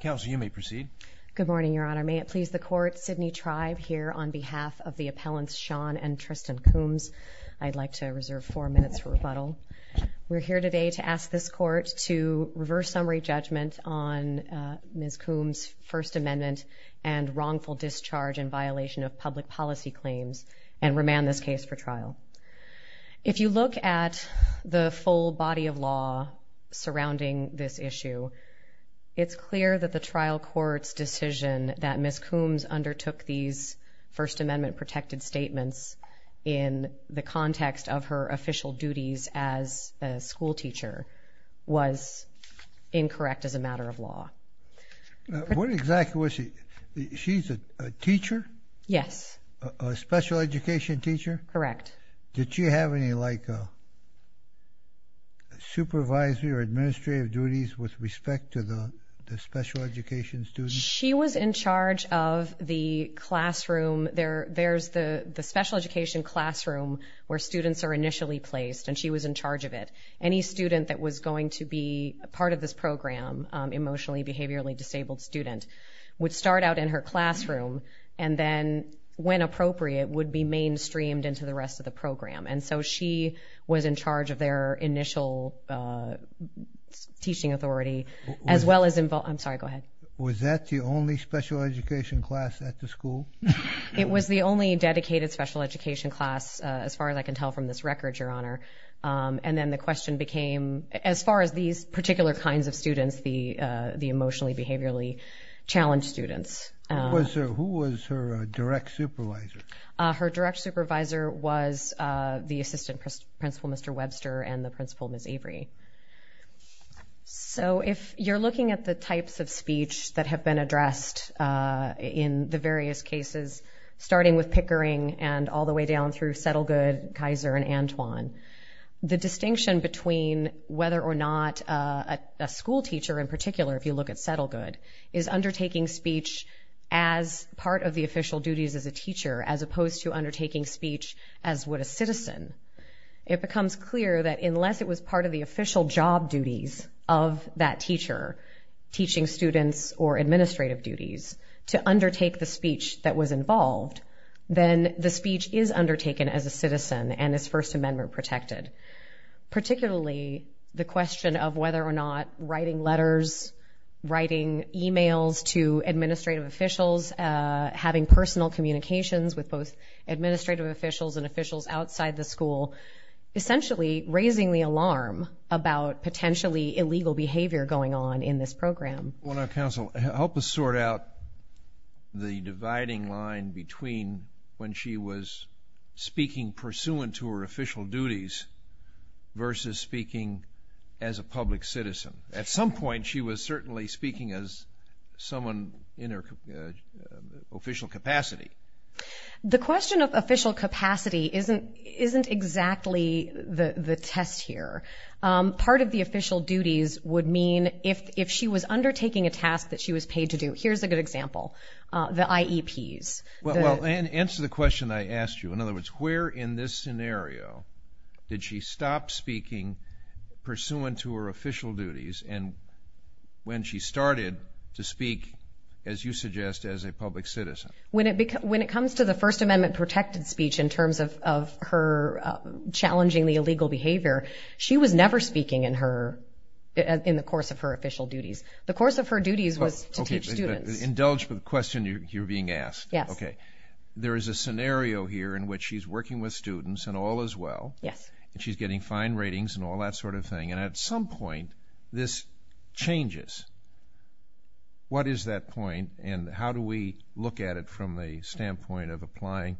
Counsel you may proceed good morning your honor may it please the court Sidney tribe here on behalf of the appellants Sean and Tristan Coombs, I'd like to reserve four minutes for rebuttal We're here today to ask this court to reverse summary judgment on Ms. Coombs First Amendment and wrongful discharge in violation of public policy claims and remand this case for trial If you look at the full body of law surrounding this issue It's clear that the trial court's decision that Miss Coombs undertook these First Amendment protected statements in the context of her official duties as a school teacher was Incorrect as a matter of law What exactly was she? She's a teacher. Yes a special education teacher. Correct. Did she have any like A Supervisory or administrative duties with respect to the the special education students. She was in charge of the Classroom there. There's the the special education classroom where students are initially placed and she was in charge of it Any student that was going to be a part of this program? Emotionally behaviorally disabled student would start out in her classroom and then when appropriate would be Streamed into the rest of the program. And so she was in charge of their initial Teaching authority as well as involved. I'm sorry. Go ahead. Was that the only special education class at the school? It was the only dedicated special education class as far as I can tell from this record your honor And then the question became as far as these particular kinds of students the the emotionally behaviorally Supervisor was the assistant principal. Mr. Webster and the principal Miss Avery So if you're looking at the types of speech that have been addressed In the various cases starting with Pickering and all the way down through Settlegood Kaiser and Antoine the distinction between whether or not a school teacher in particular if you look at Settlegood is undertaking speech as Part of the official duties as a teacher as opposed to undertaking speech as what a citizen It becomes clear that unless it was part of the official job duties of that teacher Teaching students or administrative duties to undertake the speech that was involved Then the speech is undertaken as a citizen and his First Amendment protected particularly the question of whether or not writing letters Writing emails to administrative officials having personal communications with both administrative officials and officials outside the school essentially raising the alarm about Potentially illegal behavior going on in this program on our council help us sort out the dividing line between when she was speaking pursuant to her official duties Versus speaking as a public citizen at some point. She was certainly speaking as someone in her official capacity The question of official capacity isn't isn't exactly the the test here Part of the official duties would mean if if she was undertaking a task that she was paid to do here's a good example The IEPs well and answer the question I asked you in other words where in this scenario Did she stop speaking? pursuant to her official duties and when she started to speak as you suggest as a public citizen when it becomes when it comes to the First Amendment protected speech in terms of her Challenging the illegal behavior. She was never speaking in her In the course of her official duties the course of her duties was to teach students indulge the question you're being asked Okay, there is a scenario here in which she's working with students and all as well Yes, and she's getting fine ratings and all that sort of thing and at some point this changes What is that point? And how do we look at it from the standpoint of applying?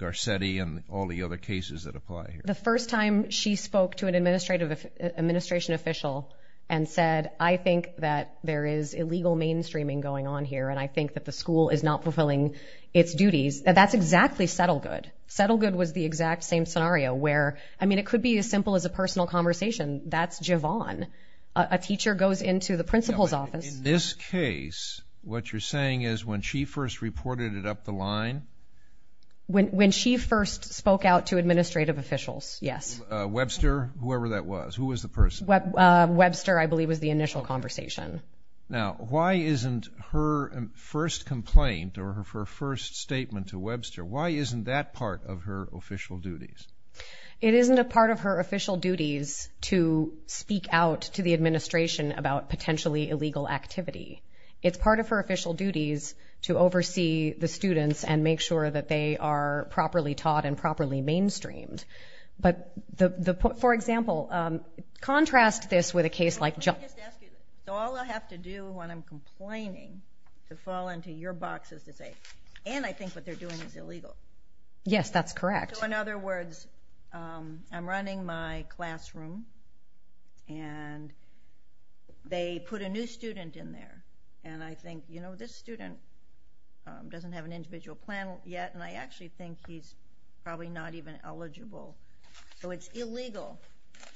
Garcetti and all the other cases that apply the first time she spoke to an administrative Administration official and said I think that there is illegal mainstreaming going on here And I think that the school is not fulfilling its duties That's exactly settle good settle good was the exact same scenario where I mean it could be as simple as a personal conversation That's Javon a teacher goes into the principal's office in this case What you're saying is when she first reported it up the line When when she first spoke out to administrative officials yes Webster whoever that was who was the person what? Webster I believe was the initial conversation Now why isn't her first complaint or her first statement to Webster Why isn't that part of her official duties? It isn't a part of her official duties to speak out to the administration about potentially illegal activity It's part of her official duties to oversee the students and make sure that they are properly taught and properly mainstreamed but the for example contrast this with a case like Have to do when I'm complaining to fall into your boxes to say and I think what they're doing is illegal Yes, that's correct. So in other words I'm running my classroom and They put a new student in there, and I think you know this student Doesn't have an individual plan yet, and I actually think he's probably not even eligible So it's illegal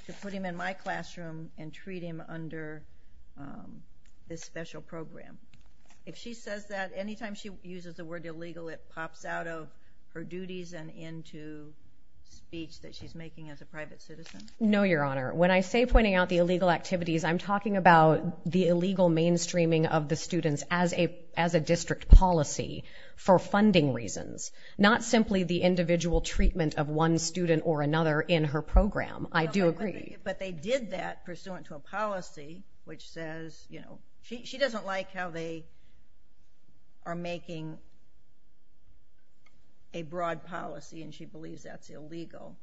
to put him in my classroom and treat him under this special program if she says that anytime she uses the word illegal it pops out of her duties and into Speech that she's making as a private citizen. No your honor when I say pointing out the illegal activities I'm talking about the illegal mainstreaming of the students as a as a district policy For funding reasons not simply the individual treatment of one student or another in her program I do agree, but they did that pursuant to a policy which says you know she doesn't like how they are making a Broad policy and she believes that's illegal,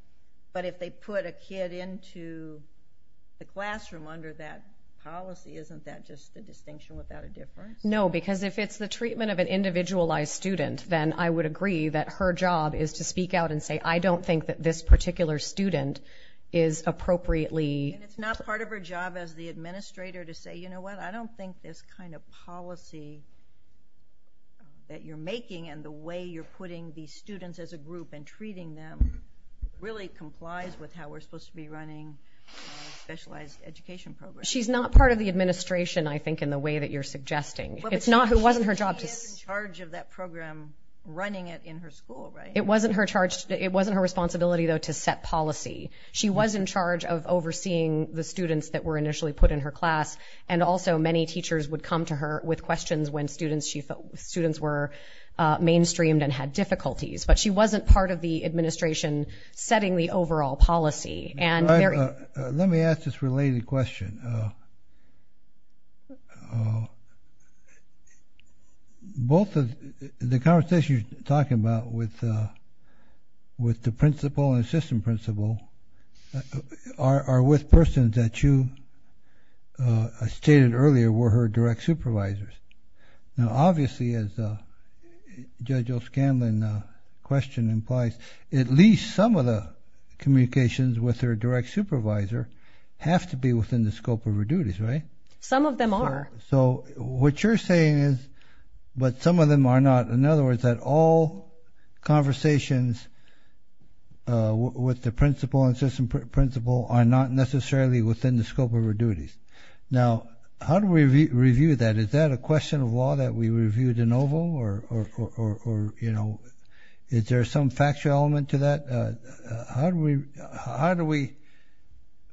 but if they put a kid into The classroom under that policy isn't that just the distinction without a difference no because if it's the treatment of an individualized student Then I would agree that her job is to speak out and say I don't think that this particular student is Appropriately, it's not part of her job as the administrator to say you know what I don't think this kind of policy That you're making and the way you're putting these students as a group and treating them Really complies with how we're supposed to be running Specialized education program she's not part of the administration. I think in the way that you're suggesting It's not who wasn't her job to charge of that program running it in her school, right? It wasn't her responsibility though to set policy She was in charge of overseeing the students that were initially put in her class and also many teachers would come to her with questions when students she felt students were Mainstreamed and had difficulties, but she wasn't part of the administration Setting the overall policy and let me ask this related question Oh Both of the conversation you're talking about with with the principal and assistant principal are with persons that you Stated earlier were her direct supervisors now obviously as Judge O'Scanlan Question implies at least some of the communications with her direct supervisor Have to be within the scope of her duties right some of them are so what you're saying is But some of them are not in other words that all conversations With the principal and assistant principal are not necessarily within the scope of her duties now How do we review that is that a question of law that we reviewed in oval or? You know is there some factual element to that? How do we how do we?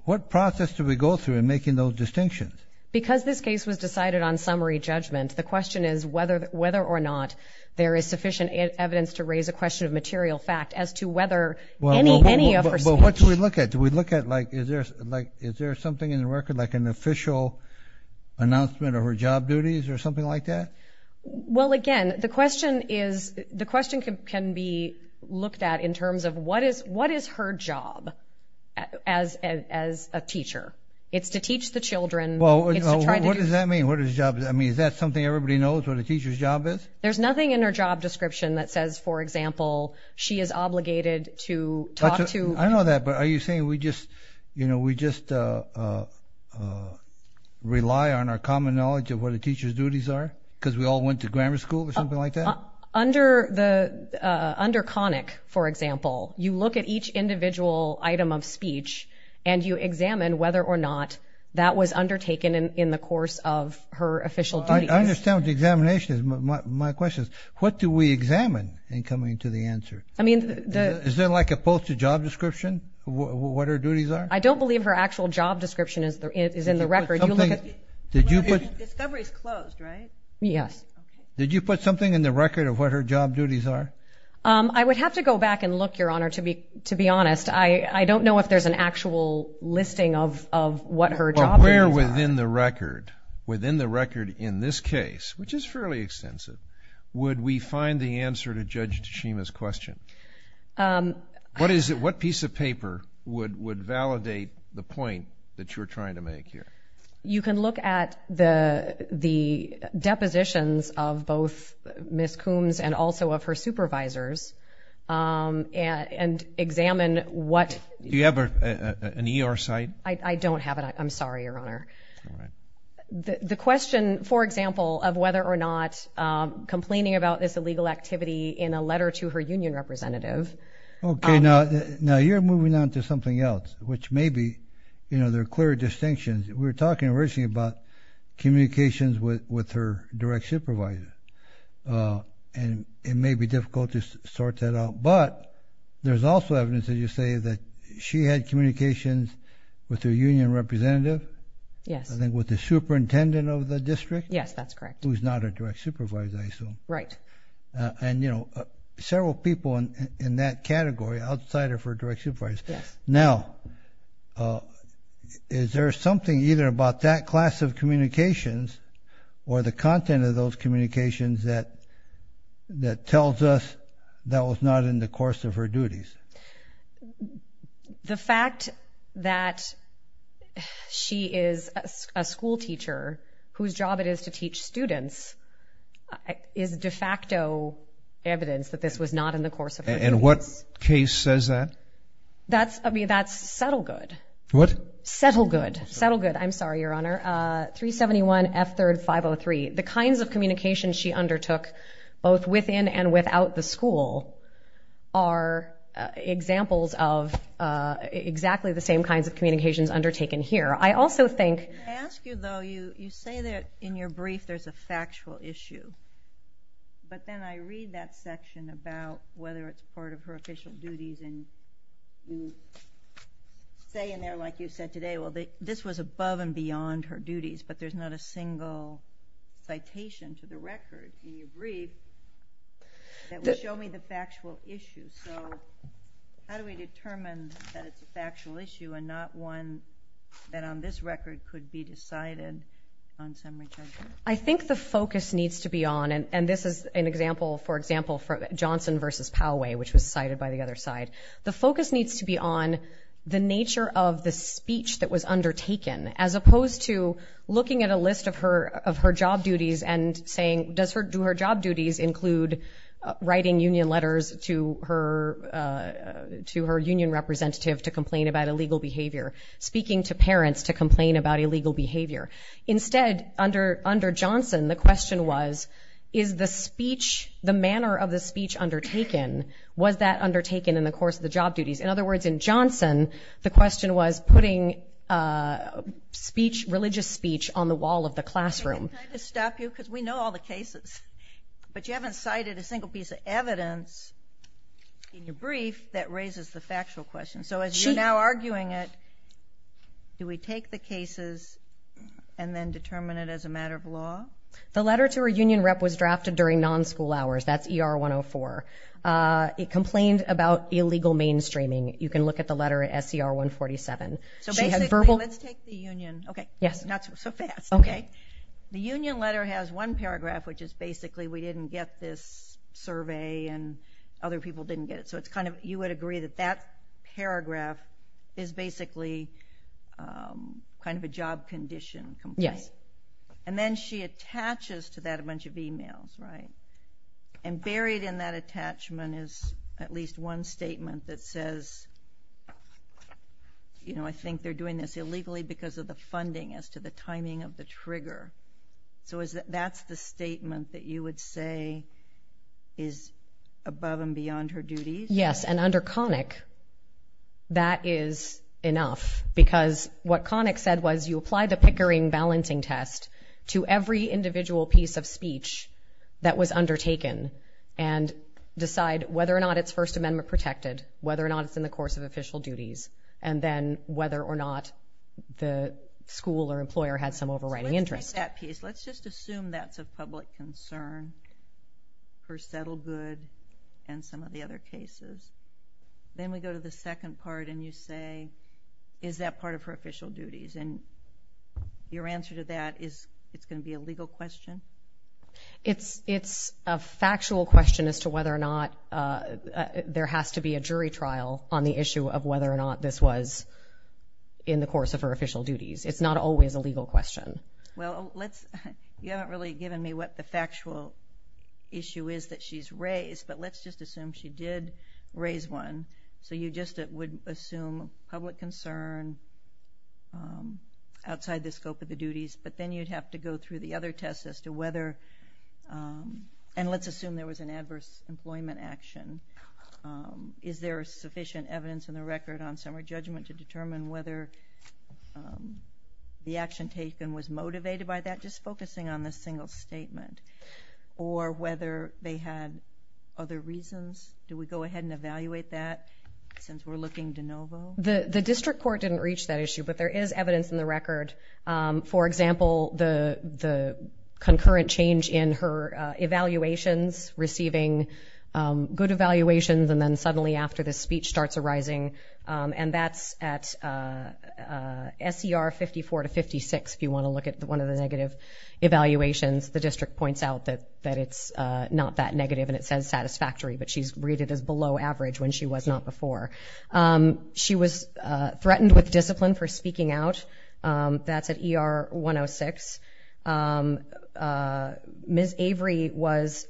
What process do we go through in making those distinctions because this case was decided on summary judgment the question is whether whether or not There is sufficient evidence to raise a question of material fact as to whether well Any other what do we look at do we look at like is there like is there something in the record like an official? Announcement of her job duties or something like that Well again the question is the question can be looked at in terms of what is what is her job? As as a teacher it's to teach the children well What does that mean? What is job? I mean is that something everybody knows what a teacher's job is there's nothing in her job description That says for example. She is obligated to talk to I know that but are you saying we just you know we just Rely on our common knowledge of what the teachers duties are because we all went to grammar school or something like that under the Under conic for example you look at each individual item of speech And you examine whether or not that was undertaken in the course of her official I understand the examination is my questions. What do we examine in coming to the answer? I mean the is there like a post a job description What her duties are I don't believe her actual job description is there is in the record you look at did you put? Yes, did you put something in the record of what her job duties are I would have to go back and look your honor to be to be honest I I don't know if there's an actual listing of of what her job where within the record Within the record in this case which is fairly extensive would we find the answer to judge Tashima's question? What is it what piece of paper would would validate the point that you're trying to make here? You can look at the the Depositions of both Miss Coombs and also of her supervisors And and examine what you have an ER site. I don't have it. I'm sorry your honor The question for example of whether or not Complaining about this illegal activity in a letter to her union representative Okay, now now you're moving on to something else which may be you know they're clear distinctions. We were talking originally about Communications with with her direct supervisor and it may be difficult to sort that out, but There's also evidence that you say that she had communications with her union representative Yes, I think with the superintendent of the district. Yes, that's correct. Who's not a direct supervisor. I assume right and you know Several people in that category outsider for direction price now Is there something either about that class of communications or the content of those communications that That tells us that was not in the course of her duties The fact that She is a school teacher whose job it is to teach students Is de facto? Evidence that this was not in the course of and what case says that That's I mean, that's settle good what settle good settle good. I'm sorry your honor 371 F third 503 the kinds of communications she undertook both within and without the school are Examples of Exactly the same kinds of communications undertaken here. I also think That in your brief, there's a factual issue but then I read that section about whether it's part of her official duties and you Say in there like you said today. Well, they this was above and beyond her duties, but there's not a single citation to the record in your brief That will show me the factual issue. So How do we determine that? It's a factual issue and not one that on this record could be decided on summary? I think the focus needs to be on and and this is an example for example for Johnson versus Poway which was cited by the other side the focus needs to be on the nature of the speech that was undertaken as opposed to Looking at a list of her of her job duties and saying does her do her job duties include? writing union letters to her To her union representative to complain about illegal behavior speaking to parents to complain about illegal behavior Instead under under Johnson. The question was is the speech the manner of the speech undertaken Was that undertaken in the course of the job duties? In other words in Johnson, the question was putting Speech religious speech on the wall of the classroom to stop you because we know all the cases But you haven't cited a single piece of evidence In your brief that raises the factual question. So as you're now arguing it Do we take the cases and then determine it as a matter of law? The letter to her union rep was drafted during non school hours. That's er 104 It complained about illegal mainstreaming you can look at the letter at SCR 147 So basically let's take the Union. Okay. Yes, not so fast. Okay, the Union letter has one paragraph Which is basically we didn't get this survey and other people didn't get it. So it's kind of you would agree that that paragraph is basically Kind of a job condition. Yes, and then she attaches to that a bunch of emails, right? And buried in that attachment is at least one statement that says You know, I think they're doing this illegally because of the funding as to the timing of the trigger So is that that's the statement that you would say is Above and beyond her duties. Yes and under Connick That is enough because what Connick said was you apply the Pickering balancing test to every individual piece of speech that was undertaken and Decide whether or not its First Amendment protected whether or not it's in the course of official duties and then whether or not The school or employer had some overriding interest that piece. Let's just assume that's a public concern for settled good and some of the other cases then we go to the second part and you say is that part of her official duties and Your answer to that is it's going to be a legal question It's it's a factual question as to whether or not There has to be a jury trial on the issue of whether or not this was In the course of her official duties. It's not always a legal question. Well, let's you haven't really given me what the factual Issue is that she's raised but let's just assume she did raise one. So you just it would assume public concern Outside the scope of the duties, but then you'd have to go through the other tests as to whether And let's assume there was an adverse employment action Is there sufficient evidence in the record on summer judgment to determine whether? The action taken was motivated by that just focusing on this single statement or whether they had Other reasons do we go ahead and evaluate that? The the district court didn't reach that issue, but there is evidence in the record for example, the the concurrent change in her evaluations receiving good evaluations and then suddenly after this speech starts arising and that's at Ser 54 to 56 if you want to look at the one of the negative Evaluations the district points out that that it's not that negative and it says satisfactory But she's read it as below average when she was not before She was threatened with discipline for speaking out That's at er 106 Miss Avery was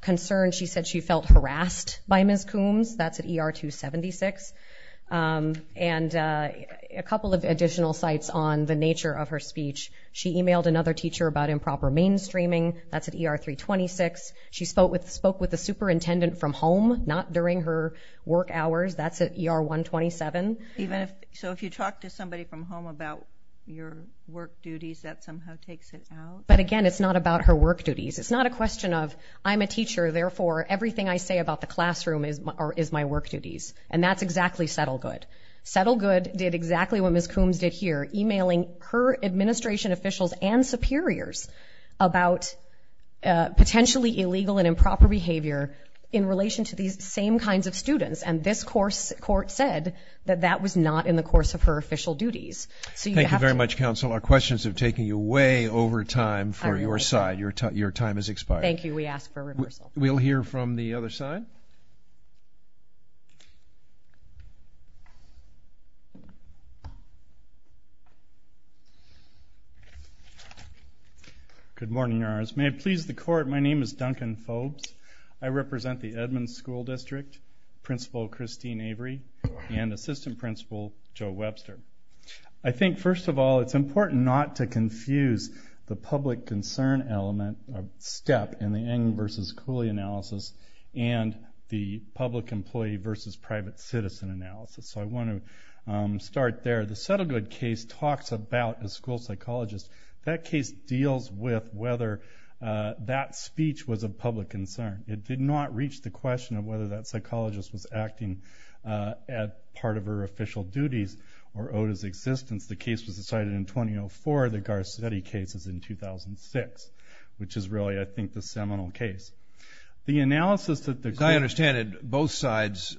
Concerned she said she felt harassed by Miss Coombs. That's at er 276 and a Couple of additional sites on the nature of her speech. She emailed another teacher about improper mainstreaming. That's at er 326 She spoke with spoke with the superintendent from home not during her work hours. That's at er 127 Even if so, if you talk to somebody from home about your work duties that somehow takes it out But again, it's not about her work duties. It's not a question of I'm a teacher Therefore everything I say about the classroom is or is my work duties and that's exactly settle good Settle good did exactly what Miss Coombs did here emailing her administration officials and superiors about Potentially illegal and improper behavior in relation to these same kinds of students and this course court said that that was not in the course Of her official duties. So you thank you very much counsel our questions have taken you way over time for your side You're taught your time is expired. Thank you. We asked for a reversal. We'll hear from the other side I Represent the Edmonds School District principal Christine Avery and assistant principal Joe Webster I think first of all, it's important not to confuse the public concern element step in the end versus Cooley analysis and The public employee versus private citizen analysis, so I want to Start there. The settle good case talks about a school psychologist that case deals with whether That speech was a public concern. It did not reach the question of whether that psychologist was acting At part of her official duties or odes existence The case was decided in 2004 the Garcetti cases in 2006, which is really I think the seminal case The analysis that the guy understanded both sides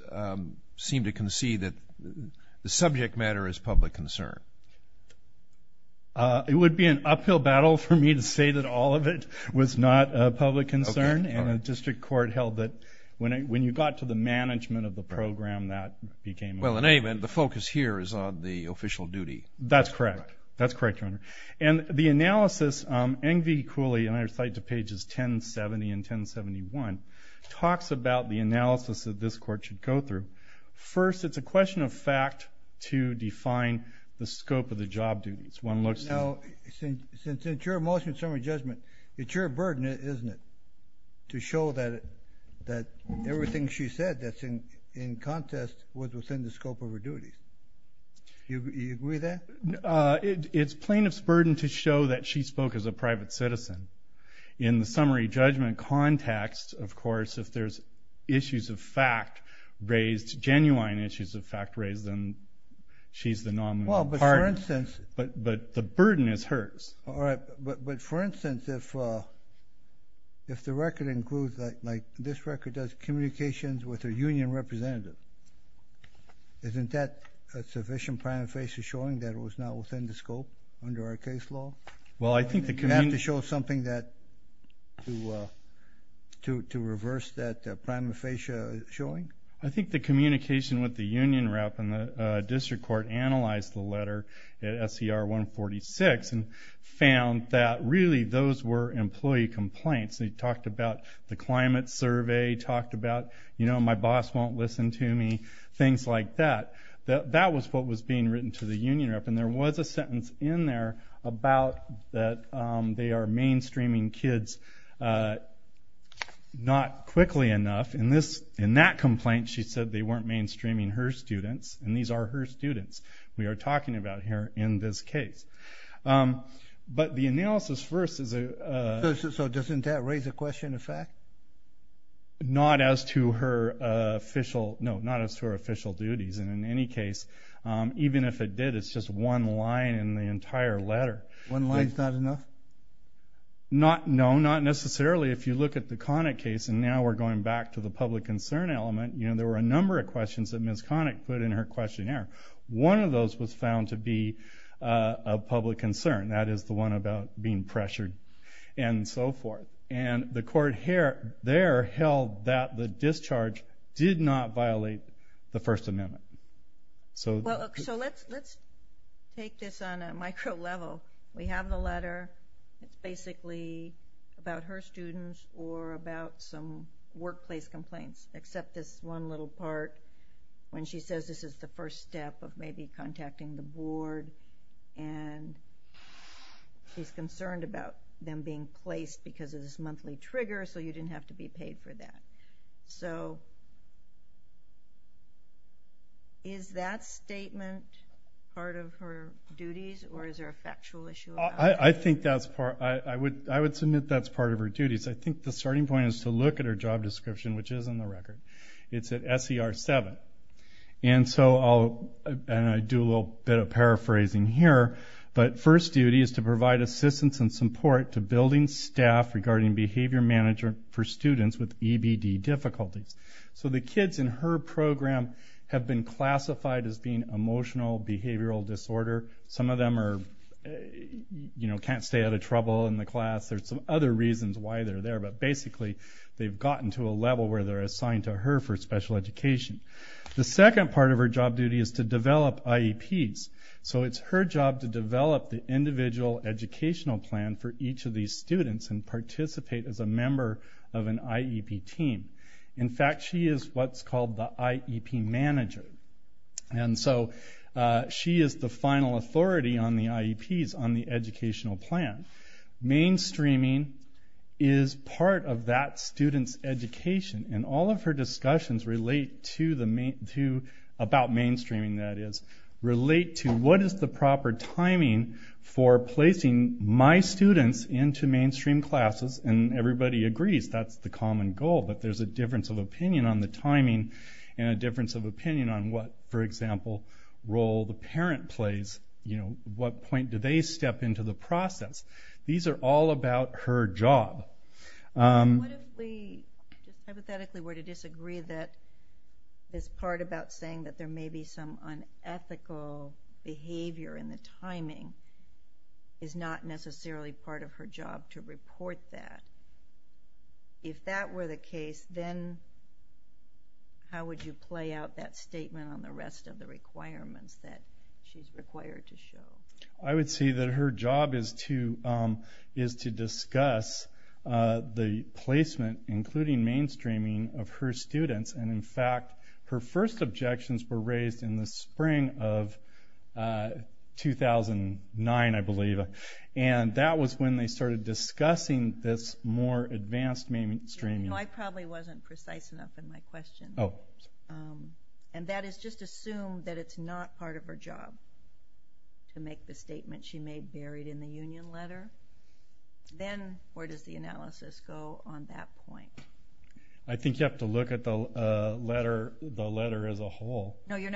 Seem to concede that the subject matter is public concern It would be an uphill battle for me to say that all of it was not a public concern and a district court held that When I when you got to the management of the program that became well in a man The focus here is on the official duty. That's correct That's correct on her and the analysis angry Cooley and I recite to pages 1070 and 1071 Talks about the analysis that this court should go through first It's a question of fact to define the scope of the job duties one looks now Since it's your motion summary judgment. It's your burden, isn't it? To show that that everything she said that's in in contest was within the scope of her duties You agree that It's plaintiff's burden to show that she spoke as a private citizen in the summary judgment Context, of course if there's issues of fact raised genuine issues of fact raised and She's the normal part instance, but but the burden is hers. All right, but but for instance if If the record includes that like this record does communications with a union representative Isn't that a sufficient prime face is showing that it was not within the scope under our case law Well, I think that can have to show something that to To reverse that prime facia showing I think the communication with the union rep and the district court analyzed the letter at SCR 146 and found that really those were employee complaints They talked about the climate survey talked about, you know, my boss won't listen to me things like that That that was what was being written to the union up and there was a sentence in there about that. They are mainstreaming kids Not quickly enough in this in that complaint She said they weren't mainstreaming her students and these are her students. We are talking about here in this case but the analysis first is a Doesn't that raise a question in fact Not as to her official. No not as to her official duties and in any case Even if it did it's just one line in the entire letter one line is not enough Not no not necessarily if you look at the conic case and now we're going back to the public concern element You know, there were a number of questions that miss conic put in her questionnaire. One of those was found to be a Public concern that is the one about being pressured and so forth and the court hair there held that the discharge Did not violate the First Amendment so Take this on a micro level we have the letter Basically about her students or about some workplace complaints except this one little part when she says this is the first step of maybe contacting the board and She's concerned about them being placed because of this monthly trigger so you didn't have to be paid for that. So Is that statement Part of her duties or is there a factual issue? I think that's part I would I would submit that's part of her duties I think the starting point is to look at her job description, which is on the record. It's at SER 7 and So I'll and I do a little bit of paraphrasing here But first duty is to provide assistance and support to building staff regarding behavior manager for students with EBD Difficulties so the kids in her program have been classified as being emotional behavioral disorder. Some of them are You know can't stay out of trouble in the class There's some other reasons why they're there But basically they've gotten to a level where they're assigned to her for special education The second part of her job duty is to develop IEPs So it's her job to develop the individual educational plan for each of these students and participate as a member of an IEP team, in fact, she is what's called the IEP manager and so She is the final authority on the IEPs on the educational plan mainstreaming is Part of that student's education and all of her discussions relate to the main to about mainstreaming that is Relate to what is the proper timing for placing my students into mainstream classes and everybody agrees That's the common goal But there's a difference of opinion on the timing and a difference of opinion on what for example Role the parent plays, you know, what point do they step into the process? These are all about her job What if we hypothetically were to disagree that This part about saying that there may be some unethical behavior in the timing is Not necessarily part of her job to report that if that were the case then How would you play out that statement on the rest of the requirements that she's required to show? I would see that her job is to is to discuss the placement including mainstreaming of her students and in fact her first objections were raised in the spring of 2009 I believe and that was when they started discussing this more advanced mainstream No, I probably wasn't precise enough in my question. Oh And that is just assumed that it's not part of her job To make the statement she made buried in the Union letter Then where does the analysis go on that point? I think you have to look at the letter the letter as a whole Assume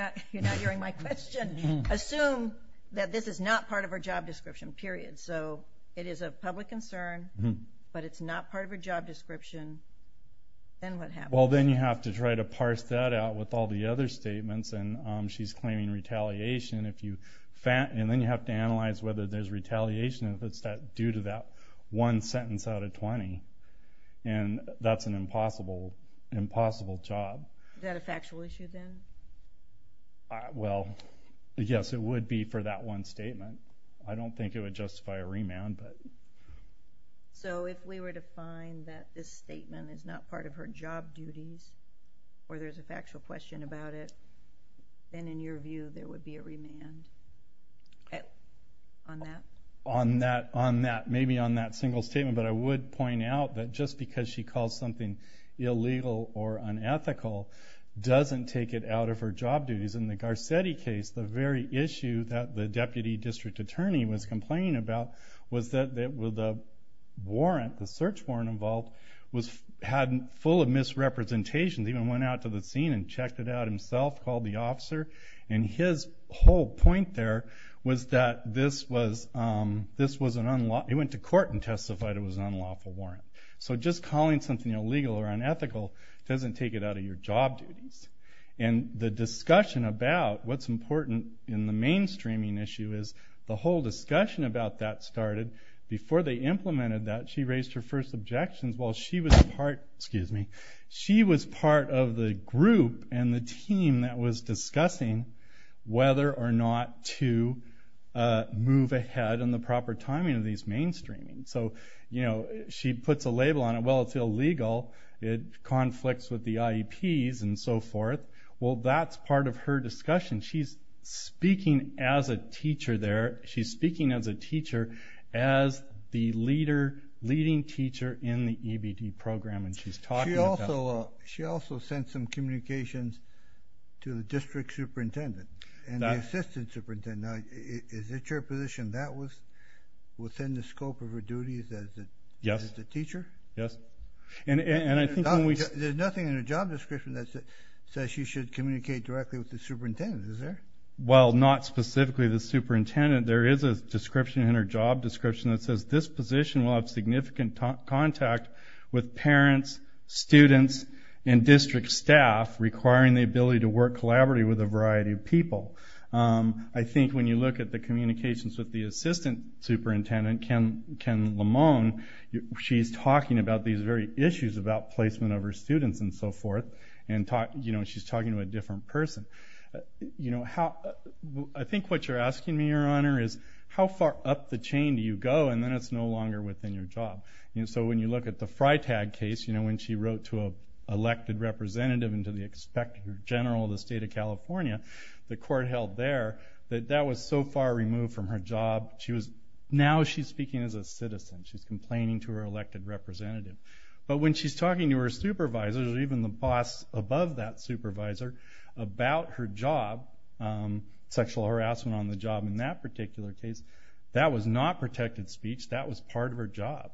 that this is not part of her job description period so it is a public concern But it's not part of her job description Then what happened? Well, then you have to try to parse that out with all the other statements and she's claiming retaliation if you fat and then you have to analyze whether there's retaliation if it's that due to that one sentence out of 20 and That's an impossible impossible job Well, yes, it would be for that one statement, I don't think it would justify a remand but So if we were to find that this statement is not part of her job duties Or there's a factual question about it Then in your view there would be a remand On that on that on that maybe on that single statement But I would point out that just because she calls something illegal or unethical Doesn't take it out of her job duties in the Garcetti case the very issue that the deputy district attorney was complaining about was that that with the Warrant the search warrant involved was hadn't full of misrepresentations even went out to the scene and checked it out himself Called the officer and his whole point there was that this was This was an unlawful. He went to court and testified. It was an unlawful warrant so just calling something illegal or unethical doesn't take it out of your job duties and The discussion about what's important in the mainstreaming issue is the whole discussion about that started Before they implemented that she raised her first objections while she was part Excuse me. She was part of the group and the team that was discussing whether or not to Move ahead and the proper timing of these mainstreaming. So, you know, she puts a label on it. Well, it's illegal it Conflicts with the IEPs and so forth. Well, that's part of her discussion. She's Speaking as a teacher there. She's speaking as a teacher as The leader leading teacher in the EBD program and she's talking also she also sent some communications to the district superintendent and Assistant superintendent is it your position that was? Within the scope of her duties that yes the teacher. Yes, and and I think there's nothing in her job description That's it says she should communicate directly with the superintendent. Is there well not specifically the superintendent There is a description in her job description that says this position will have significant contact with parents students and district staff Requiring the ability to work collaboratively with a variety of people I think when you look at the communications with the assistant superintendent Ken Ken Lamone She's talking about these very issues about placement of her students and so forth and talk, you know, she's talking to a different person You know how I think what you're asking me your honor is how far up the chain do you go? And then it's no longer within your job, you know So when you look at the Freitag case, you know when she wrote to a elected representative into the expected general the state of California The court held there that that was so far removed from her job. She was now she's speaking as a citizen She's complaining to her elected representative But when she's talking to her supervisors or even the boss above that supervisor about her job Sexual harassment on the job in that particular case. That was not protected speech. That was part of her job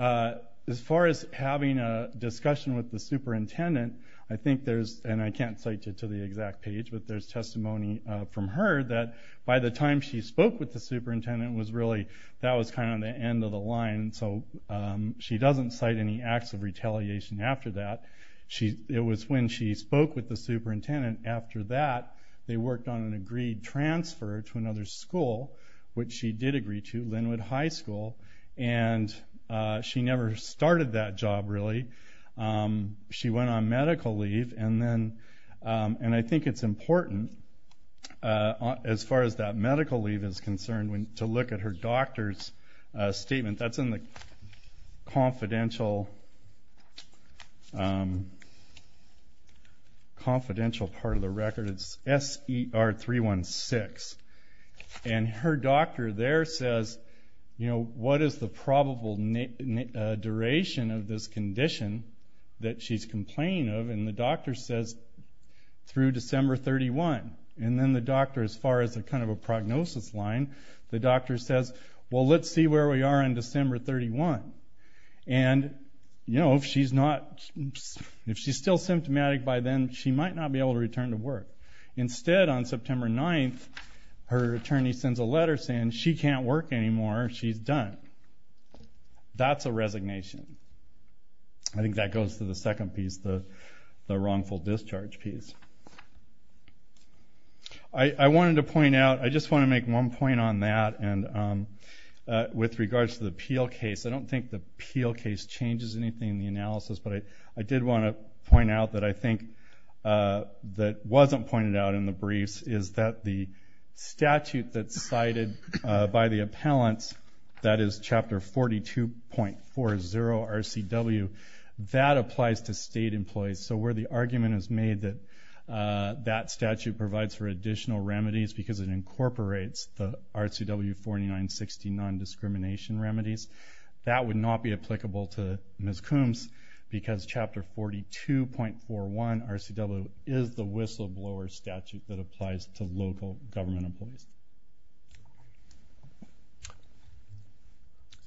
As far as having a discussion with the superintendent, I think there's and I can't cite you to the exact page But there's testimony from her that by the time she spoke with the superintendent was really that was kind of the end of the line so She doesn't cite any acts of retaliation after that She it was when she spoke with the superintendent after that they worked on an agreed transfer to another school which she did agree to Linwood High School and She never started that job really She went on medical leave and then and I think it's important As far as that medical leave is concerned when to look at her doctor's statement that's in the confidential Confidential part of the record it's s er 3 1 6 and Her doctor there says, you know, what is the probable? Duration of this condition that she's complaining of and the doctor says Through December 31 and then the doctor as far as a kind of a prognosis line The doctor says well, let's see where we are in December 31 and You know if she's not If she's still symptomatic by then, she might not be able to return to work instead on September 9th Her attorney sends a letter saying she can't work anymore. She's done That's a resignation. I think that goes to the second piece the the wrongful discharge piece. I And With regards to the peel case. I don't think the peel case changes anything in the analysis but I I did want to point out that I think that wasn't pointed out in the briefs is that the Statute that's cited by the appellants. That is chapter 42 point four zero RCW That applies to state employees. So where the argument is made that Statue provides for additional remedies because it incorporates the RCW 49 60 non-discrimination remedies That would not be applicable to Miss Coombs Because chapter forty two point four one RCW is the whistleblower statute that applies to local government employees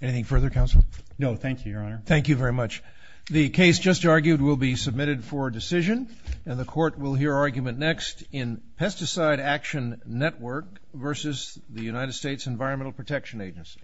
Anything further counsel no, thank you your honor Thank you very much The case just argued will be submitted for decision and the court will hear argument next in pesticide action network versus the United States Environmental Protection Agency